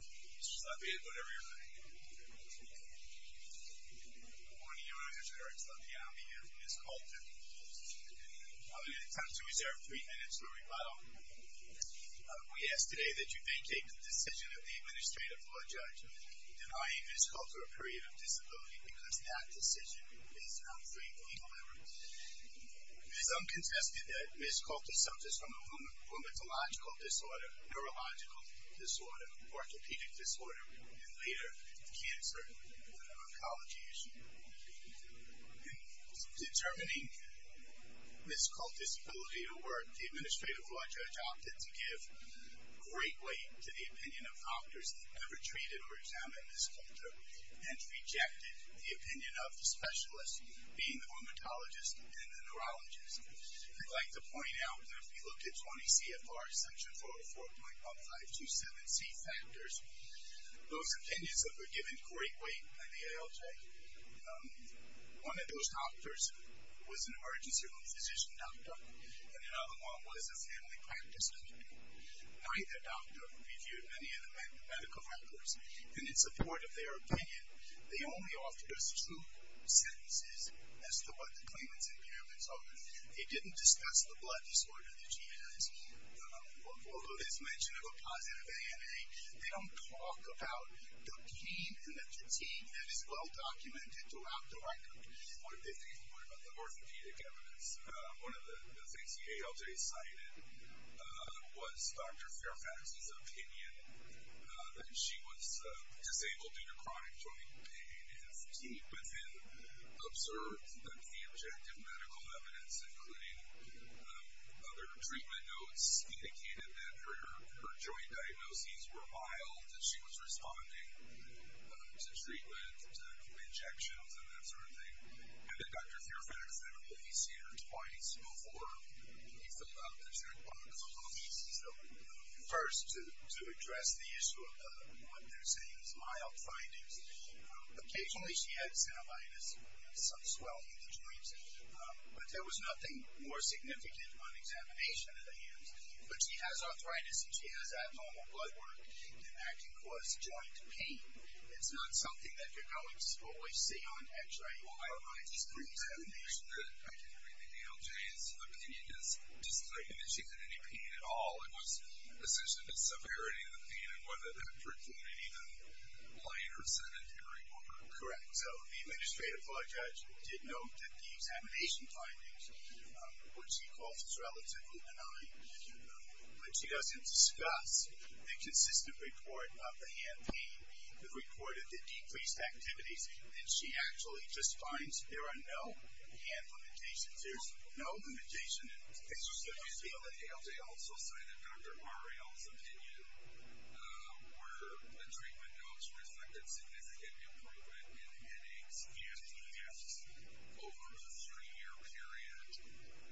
Good morning Your Honors, Eric Slaviani here, Ms. Colter. I'm going to attempt to reserve three minutes for a rebuttal. We ask today that you vacate the decision of the Administrative Law Judge denying Ms. Colter a period of disability because that decision is unfrequently delivered. It is uncontested that Ms. Colter suffers from a rheumatological disorder, neurological disorder, orthopedic disorder, and later cancer, an oncology issue. In determining Ms. Colter's ability to work, the Administrative Law Judge opted to give great weight to the opinion of doctors that never treated or examined Ms. Colter and rejected the opinion of the specialist being the rheumatologist and the neurologist. I'd like to point out that if we look at 20 CFR section 404.1527C factors, those opinions have been given great weight by the ALJ. One of those doctors was an emergency room physician doctor, and another one was a family practice doctor. Neither doctor reviewed many of the medical factors, and in support of their opinion, they only offered us true sentences as to what the claimants in Maryland told us. They didn't discuss the blood disorder that she has. Although there's mention of a positive ANA, they don't talk about the pain and the fatigue that is well documented throughout the record. One of the things we learned about the orthopedic evidence, one of the things the ALJ cited was Dr. Fairfax's opinion that she was disabled due to chronic joint pain and fatigue, but then observed that the objective medical evidence, including other treatment notes, indicated that her joint diagnoses were mild, and she was responding to treatment, to injections, and that sort of thing. And then Dr. Fairfax said that he'd seen her twice before he filled out the checkbook, first to address the issue of what they're saying is mild findings. Occasionally she had synovitis, some swelling of the joints, but there was nothing more significant on examination of the hands. But she has arthritis, and she has abnormal blood work, and that can cause joint pain. It's not something that you're going to always see on X-ray or MRI just for examination. I can agree with ALJ. The opinion is that she didn't have any pain at all. It was essentially the severity of the pain, and whether that hurt the knee, the blade, or sedentary work. Correct. So the administrative law judge did note that the examination findings, which he calls as relatively benign, but she doesn't discuss the consistent report of the hand pain. The report of the decreased activities, and she actually just finds there are no hand limitations. There's no limitation. So you feel that ALJ also cited Dr. Harrell's opinion where the treatment notes reflected significant improvement in headaches and deaths over this three-year period,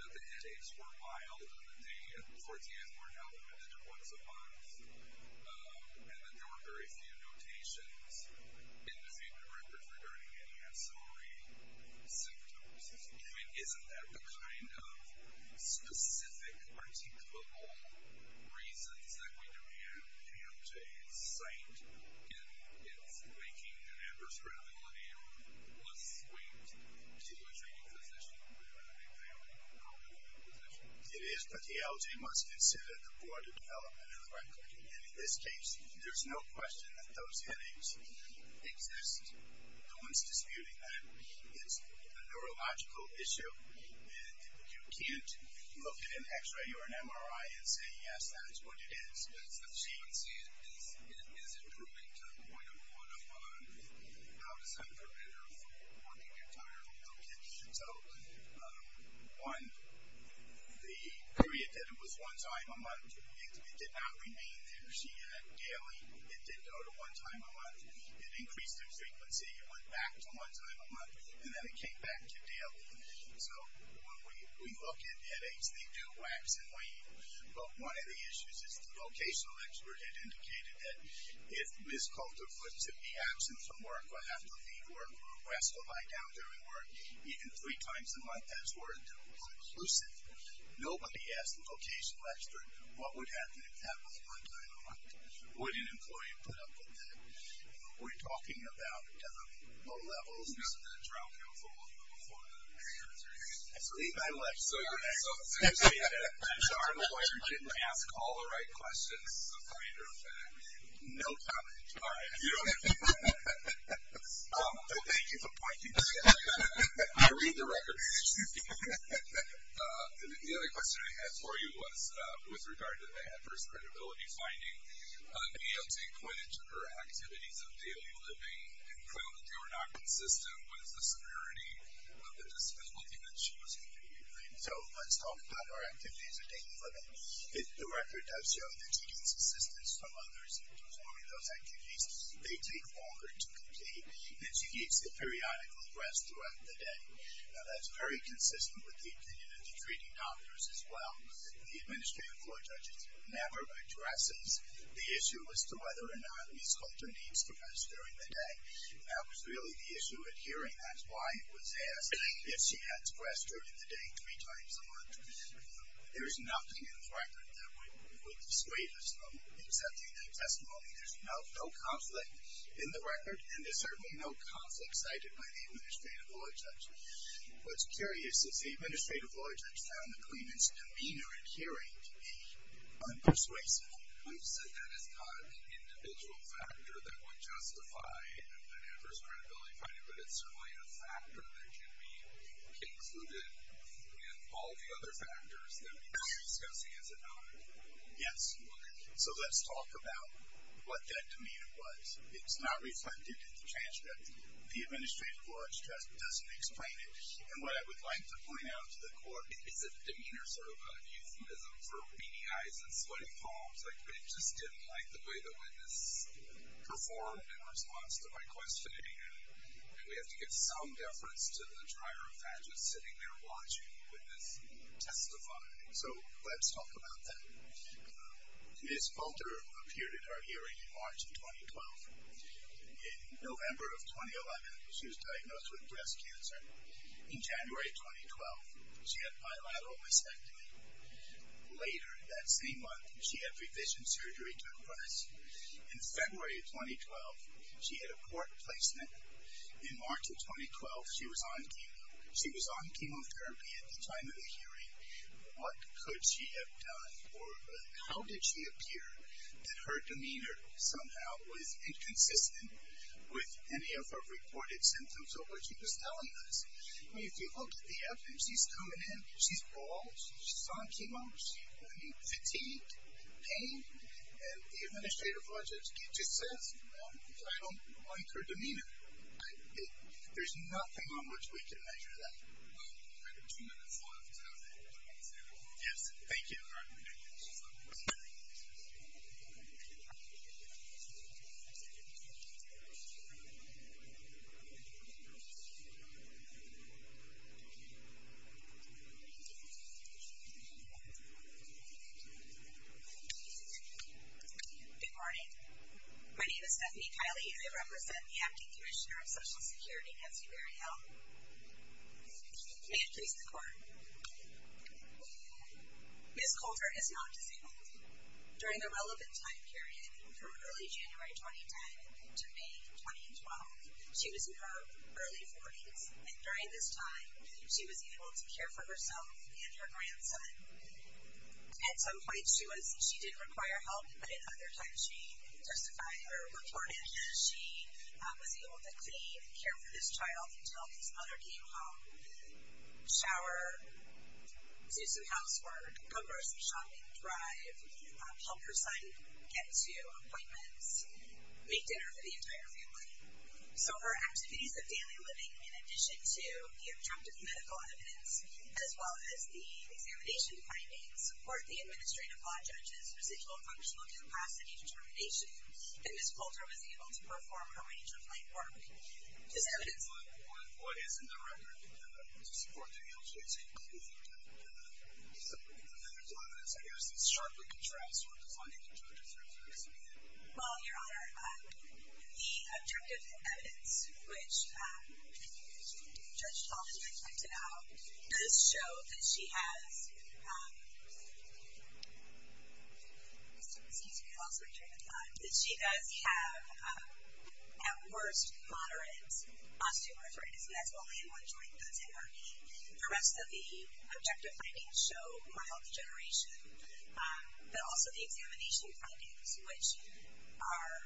that the headaches were mild, and they, of course, yes, were elevated once a month, and that there were very few notations in the treatment records regarding any ancillary symptoms. I mean, isn't that the kind of specific, articulable reasons that we demand ALJ cite in its making an adverse radicality or a swing to a treating physician who would have a family-compatible position? It is, but the ALJ must consider the broader development of the record. And in this case, there's no question that those headaches exist. No one's disputing that. It's a neurological issue, and you can't look at an X-ray or an MRI and say, yes, that is what it is. She would say it is improving to the point of, well, how does that prevent her from working entirely? So, one, the period that it was one time a month, it did not remain there. She had daily, it did go to one time a month. It increased in frequency. It went back to one time a month, and then it came back to daily. So when we look at headaches, they do wax and wane. But one of the issues is the vocational expert had indicated that if Ms. Coulter couldn't simply be absent from work or have to leave work or rest or lie down during work, even three times a month, that's where it was occlusive. Nobody asked the vocational expert what would happen if that was one time a month. Would an employee put up with that? We're talking about low levels. Who got the trial counsel before that? I believe I left. So you're saying that our employer didn't ask all the right questions, as a matter of fact? No comment. All right. Thank you for pointing that out. I read the record. The other question I had for you was with regard to the adverse credibility finding, being able to point into her activities of daily living and claim that they were not consistent with the severity of the disability that she was experiencing. So let's talk about her activities of daily living. The record does show that she gets assistance from others in performing those activities. They take longer to complete, and she gets a periodical rest throughout the day. Now, that's very consistent with the opinion of the treating doctors as well. The administrative court judge never addresses the issue as to whether or not Ms. Hunter needs to rest during the day. That was really the issue at hearing. That's why it was asked if she had to rest during the day three times a month. There is nothing in the record that would persuade us of accepting that testimony. There's no conflict in the record, and there's certainly no conflict cited by the administrative law judge. What's curious is the administrative law judge found the claimant's demeanor at hearing to be unpersuasive. You said that is not an individual factor that would justify an adverse credibility finding, but it's certainly a factor that can be included in all the other factors that we've been discussing, is it not? Yes. So let's talk about what that demeanor was. It's not reflected in the transcript. The administrative court judge doesn't explain it. And what I would like to point out to the court is that demeanor is sort of a euphemism for weenie eyes and sweaty palms. Like, we just didn't like the way the witness performed in response to my questioning, and we have to give some deference to the trier of faggots sitting there watching the witness testify. So let's talk about that. Ms. Falter appeared at our hearing in March of 2012. In November of 2011, she was diagnosed with breast cancer. In January of 2012, she had bilateral mastectomy. Later that same month, she had revision surgery to her breast. In February of 2012, she had a court placement. In March of 2012, she was on chemotherapy at the time of the hearing. What could she have done? Or how did she appear that her demeanor somehow was inconsistent with any of her reported symptoms of what she was telling us? I mean, if you look at the evidence, she's coming in, she's bald, she's on chemotherapy, I mean, fatigue, pain, and the administrative court judge just says, you know, I don't like her demeanor. There's nothing on which we can measure that. We have two minutes left. Yes, thank you. Good morning. My name is Stephanie Kiley, and I represent the Acting Commissioner of Social Security at Superior Health. May it please the Court. Ms. Coulter is not disabled. During the relevant time period from early January 2010 to May 2012, she was in her early 40s, and during this time, she was able to care for herself and her grandson. At some point, she didn't require help, but at other times she testified or reported she was able to clean and care for this child until his mother came home, shower, do some housework, go grocery shopping, drive, help her son get to appointments, make dinner for the entire family. So her activities of daily living, in addition to the objective medical evidence, as well as the examination findings, support the administrative law judges, residual functional capacity determination, and Ms. Coulter was able to perform her range of labor. Ms. Evidence. What is in the record to support the LJC? There's a lot of evidence, I guess, that sharply contrasts what the funding of judges refers to. Well, Your Honor, the objective evidence, which Judge Chalmers has pointed out, does show that she has at worst moderate osteoarthritis, and that's only in one joint that's in her knee. The rest of the objective findings show mild degeneration, but also the examination findings, which are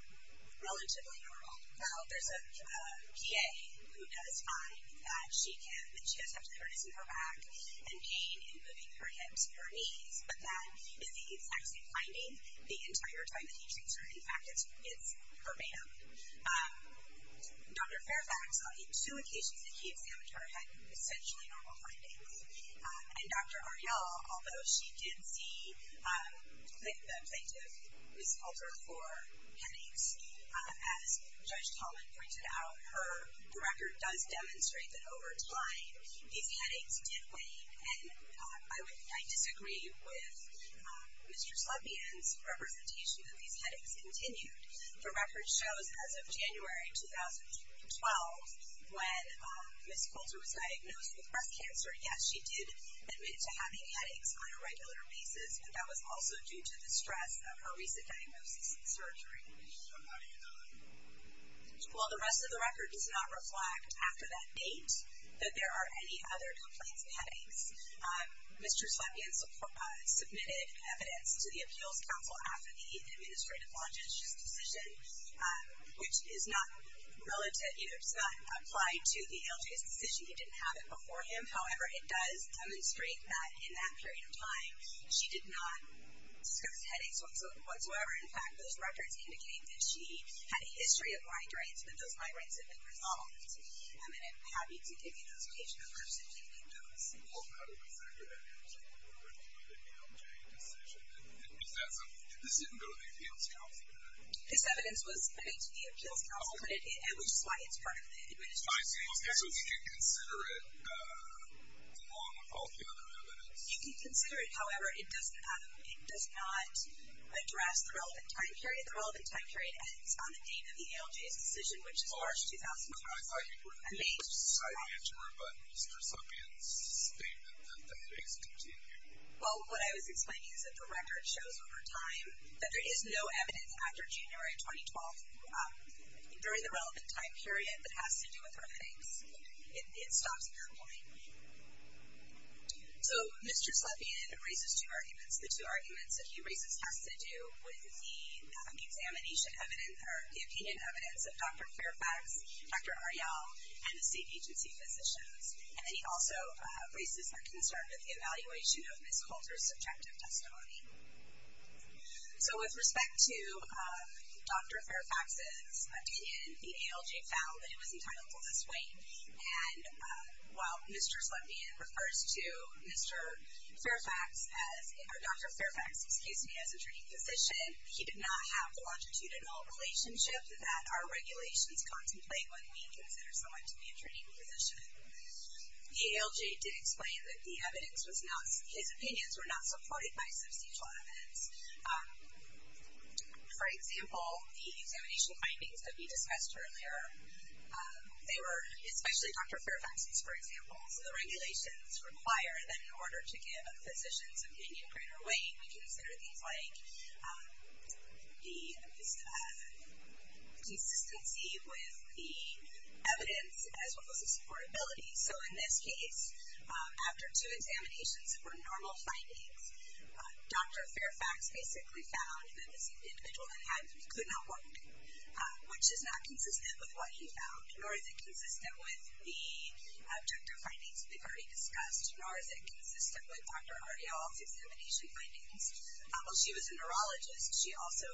relatively normal. Well, there's a PA who does find that she has osteoarthritis in her back and pain in moving her hips and her knees, but that is the exact same finding the entire time that he treats her. In fact, it's her man. Dr. Fairfax, on two occasions that he examined her, had essentially normal findings. And Dr. Ariella, although she did see the plaintiff, Ms. Coulter, for headaches, as Judge Chalmers pointed out, the record does demonstrate that over time these headaches did wane. And I disagree with Mr. Slepian's representation that these headaches continued. The record shows as of January 2012, when Ms. Coulter was diagnosed with breast cancer, yes, she did admit to having headaches on a regular basis, but that was also due to the stress of her recent diagnosis and surgery. So how do you know that? Well, the rest of the record does not reflect after that date that there are any other complaints of headaches. Mr. Slepian submitted evidence to the Appeals Council after the administrative longitudinal decision, which is not applied to the ALJ's decision. He didn't have it before him. However, it does demonstrate that in that period of time she did not discuss headaches whatsoever. In fact, those records indicate that she had a history of migraines and that those migraines had been resolved. And I'm happy to give you those patient reports if you need those. Well, how do you consider that evidence in the record of the ALJ decision? This didn't go to the Appeals Council, did it? This evidence was submitted to the Appeals Council, which is why it's part of the administrative longitudinal decision. So you can consider it along with all the other evidence? You can consider it. However, it does not address the relevant time period. The relevant time period ends on the date of the ALJ's decision, which is March 2012. I thought you were going to provide the answer, but Mr. Slepian's statement that the headaches continue. Well, what I was explaining is that the record shows over time that there is no evidence after January 2012 during the relevant time period that has to do with her headaches. It stops at that point. So Mr. Slepian raises two arguments. The two arguments that he raises has to do with the opinion evidence of Dr. Fairfax, Dr. Arell, and the state agency physicians. And then he also raises their concern with the evaluation of Ms. Coulter's subjective testimony. So with respect to Dr. Fairfax's opinion, the ALJ found that it was entitled to this weight. And while Mr. Slepian refers to Dr. Fairfax, excuse me, as a training physician, he did not have the longitudinal relationship that our regulations contemplate when we consider someone to be a training physician. The ALJ did explain that the evidence was not, his opinions were not supported by substantial evidence. For example, the examination findings that we discussed earlier, they were especially Dr. Fairfax's, for example. So the regulations require that in order to give a physician's opinion greater weight, we consider things like the consistency with the evidence as well as the supportability. So in this case, after two examinations, it were normal findings. Dr. Fairfax basically found that this individual had, could not walk, which is not consistent with what he found, nor is it consistent with the objective findings that we've already discussed, nor is it consistent with Dr. Argyle's examination findings. While she was a neurologist, she also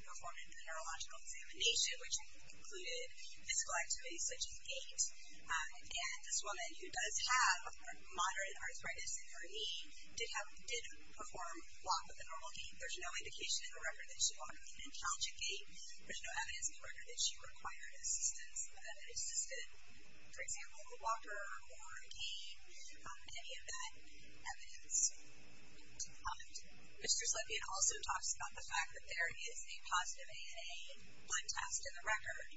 performed a neurological examination, which included physical activities such as gait. And this woman who does have moderate arthritis in her knee did perform well with a normal gait. There's no indication in the record that she walked in a challenging gait. There's no evidence in the record that she required assistance, that an assistant, for example, a walker or a cane, any of that evidence. Mr. Slepian also talks about the fact that there is a positive ANA one test in the record.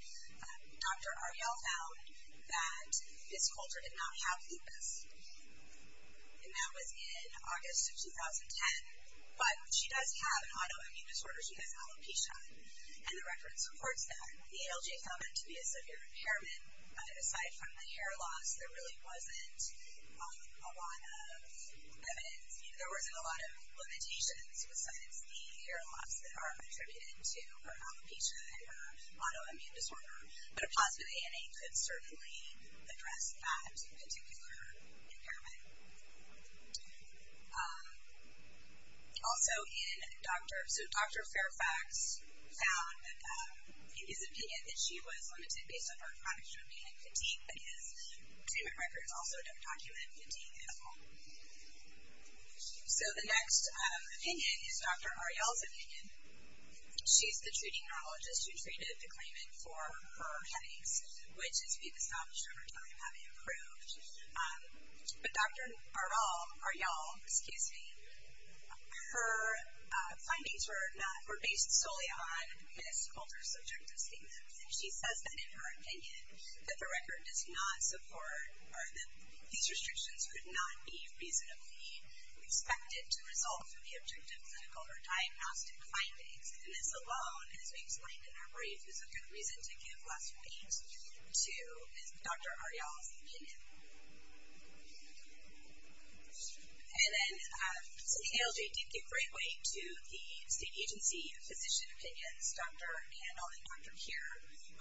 Dr. Argyle found that his culture did not have lupus. And that was in August of 2010. But she does have an autoimmune disorder. She has alopecia, and the record supports that. The ALJ found that to be a severe impairment. Aside from the hair loss, there really wasn't a lot of evidence. There wasn't a lot of limitations besides the hair loss that are attributed to her alopecia and her autoimmune disorder. But a positive ANA could certainly address that particular impairment. Also, Dr. Fairfax found that in his opinion, that she was limited based on her chronic stroke panic fatigue, but his treatment records also don't document fatigue at all. She's the treating neurologist who treated the claimant for her headaches, which has been established over time having improved. But Dr. Argyle, her findings were based solely on Ms. Coulter's objective statements. She says that in her opinion, that the record does not support, or that these restrictions could not be reasonably expected to result from the diagnostic findings. And this alone, as we explained in our brief, is a good reason to give less weight to Dr. Argyle's opinion. And then the ALJ did give great weight to the state agency physician opinions, Dr. Handel and Dr. Keir.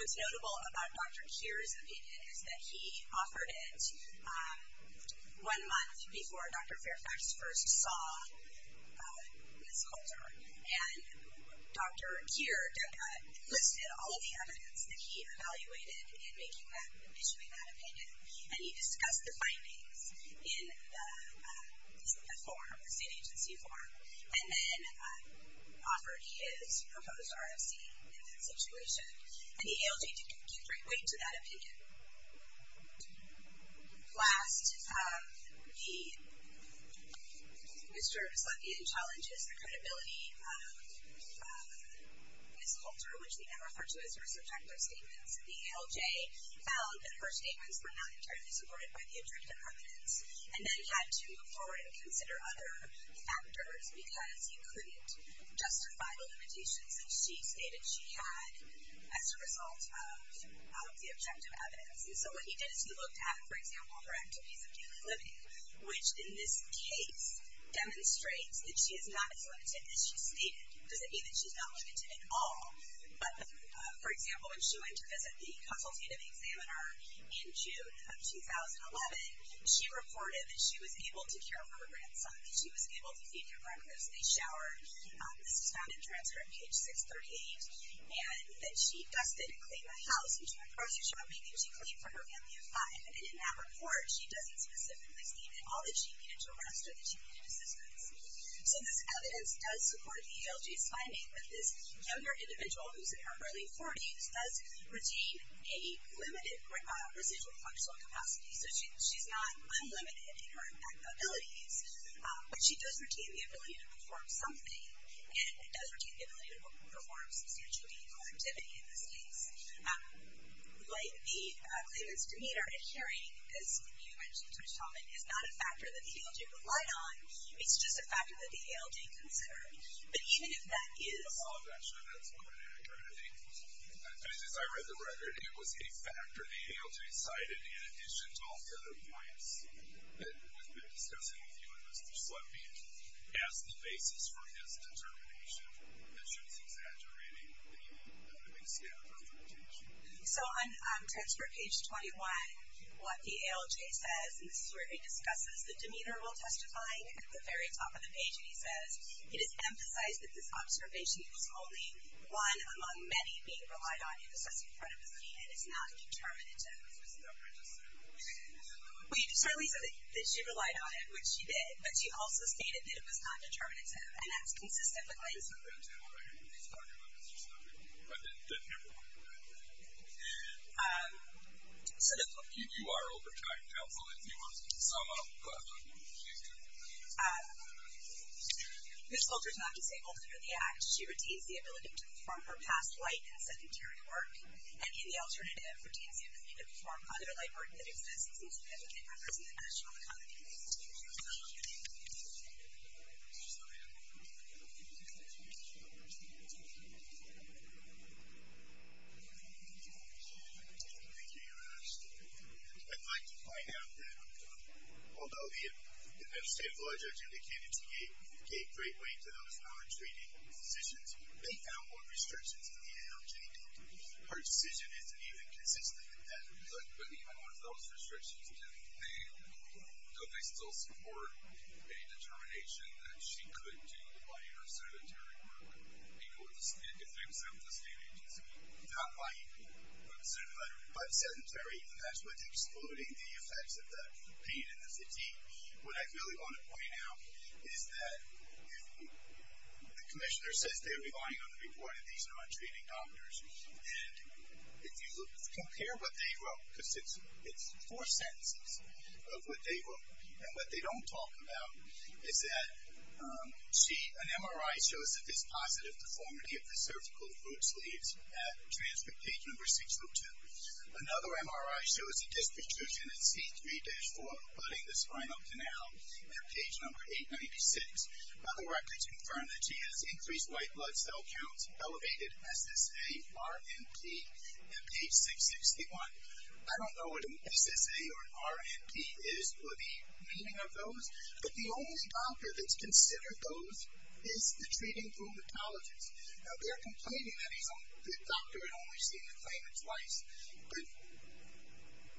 What's notable about Dr. Keir's opinion is that he offered it one month before Dr. Fairfax first saw Ms. Coulter. And Dr. Keir listed all of the evidence that he evaluated in making that, in issuing that opinion, and he discussed the findings in the form, the state agency form, and then offered his proposed RFC in that situation. And the ALJ did give great weight to that opinion. Last, Mr. Veslethian challenges the credibility of Ms. Coulter, which we now refer to as her subjective statements. The ALJ found that her statements were not entirely supported by the objective evidence, and then had to move forward and consider other factors because you couldn't justify the limitations that she stated she had as a result of the subjective evidence. And so what he did is he looked at, for example, her activities of daily living, which in this case demonstrates that she is not as limited as she stated. It doesn't mean that she's not limited at all, but, for example, when she went to visit the consultative examiner in June of 2011, she reported that she was able to care for her grandson, that she was able to feed him breakfast and shower. This was found in transfer in page 638, and that she thus didn't clean the house until the process showed maybe she cleaned for her family of five. And in that report, she doesn't specifically state that all that she needed to rest or that she needed assistance. So this evidence does support the ALJ's finding that this younger individual who's in her early 40s does retain a limited residual functional capacity. So she's not unlimited in her abilities, but she does retain the ability to perform something, and does retain the ability to perform substantial daily activity in this case. The claimants, to me, are adhering, as you mentioned, is not a factor that the ALJ relied on. It's just a factor that the ALJ considered. But even if that is... I'm not sure that's quite accurate. As I read the record, it was a factor the ALJ cited, in addition to all the other points that we've been discussing with you as the basis for his determination that she was exaggerating So on transfer page 21, what the ALJ says, and this is where it discusses the demeanor while testifying, at the very top of the page, and he says, it is emphasized that this observation is only one among many being relied on in assessing credibility and is not determinative. Well, you certainly said that she relied on it, which she did, but she also stated that it was not determinative, and that's consistent with what you said. So you are overtying counsel if you want to sum up what she's doing. This culture is not disabled under the Act. She retains the ability to perform her past light and sedentary work, and in the alternative, retains the ability to perform other light work that exists and seems to benefit members of the national economy. Thank you. I'd like to point out that although the United States legislature indicated she gave great weight to those non-treating positions, they found more restrictions in the ALJ data. Her decision isn't even consistent with that. But even with those restrictions, do they still support any determination that she could do lighter sedentary work if they were sent to a state agency? Not by EPA, but sedentary. That's excluding the effects of the pain and the fatigue. What I really want to point out is that if the commissioner says that they're relying on the report of these non-treating doctors, and if you compare what they wrote, because it's four sentences of what they wrote, and what they don't talk about is that an MRI shows that there's positive deformity of the cervical root sleeves at transcript page number 602. Another MRI shows a disc restriction at C3-4, flooding the spinal canal at page number 896. Other records confirm that she has increased white blood cell counts, elevated SSA, RNP at page 661. I don't know what an SSA or an RNP is or the meaning of those, but the only doctor that's considered those is the treating rheumatologist. Now, they're complaining that the doctor had only seen the claimant twice, but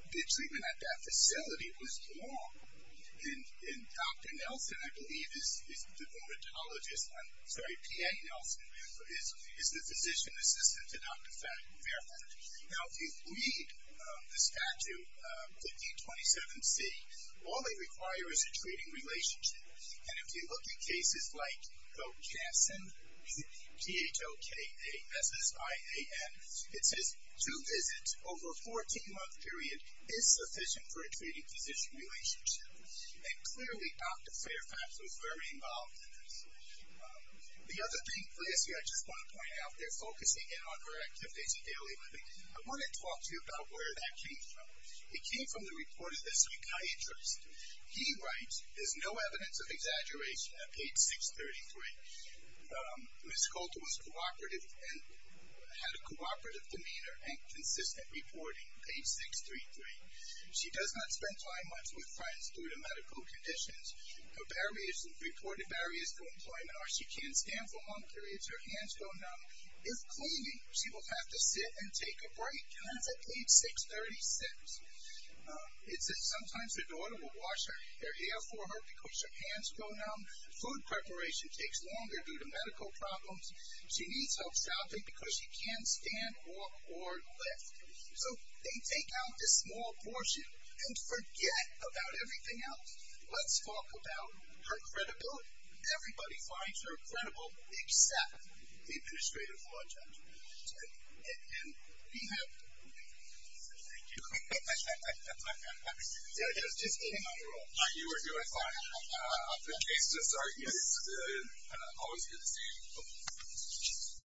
the treatment at that facility was wrong. And Dr. Nelson, I believe, is the rheumatologist, I'm sorry, P.A. Nelson, is the physician assistant to Dr. Fairford. Now, if you read the statute, the D27C, all they require is a treating relationship. And if you look at cases like Bochanson, P-H-O-K-A-S-S-I-A-N, it says two visits over a 14-month period is sufficient for a treating physician relationship. And clearly, Dr. Fairfax was very involved in this. The other thing, lastly, I just want to point out, they're focusing in on her activities of daily living. I want to talk to you about where that came from. It came from the report of this psychiatrist. He writes, there's no evidence of exaggeration at page 633. Ms. Coulter was cooperative and had a cooperative demeanor and consistent reporting, page 633. She does not spend time much with friends due to medical conditions. Her barriers, reported barriers to employment are she can't stand for long periods, her hands go numb. If cleaning, she will have to sit and take a break. And that's at page 636. It says sometimes her daughter will wash her hair for her because her hands go numb. Food preparation takes longer due to medical problems. She needs help stopping because she can't stand, walk, or lift. So they take out this small portion and forget about everything else. Let's talk about her credibility. Everybody finds her credible except the administrative law judge. And we have to. Thank you. I'm just kidding on your own. You were doing fine. The case is good. Always good to see you.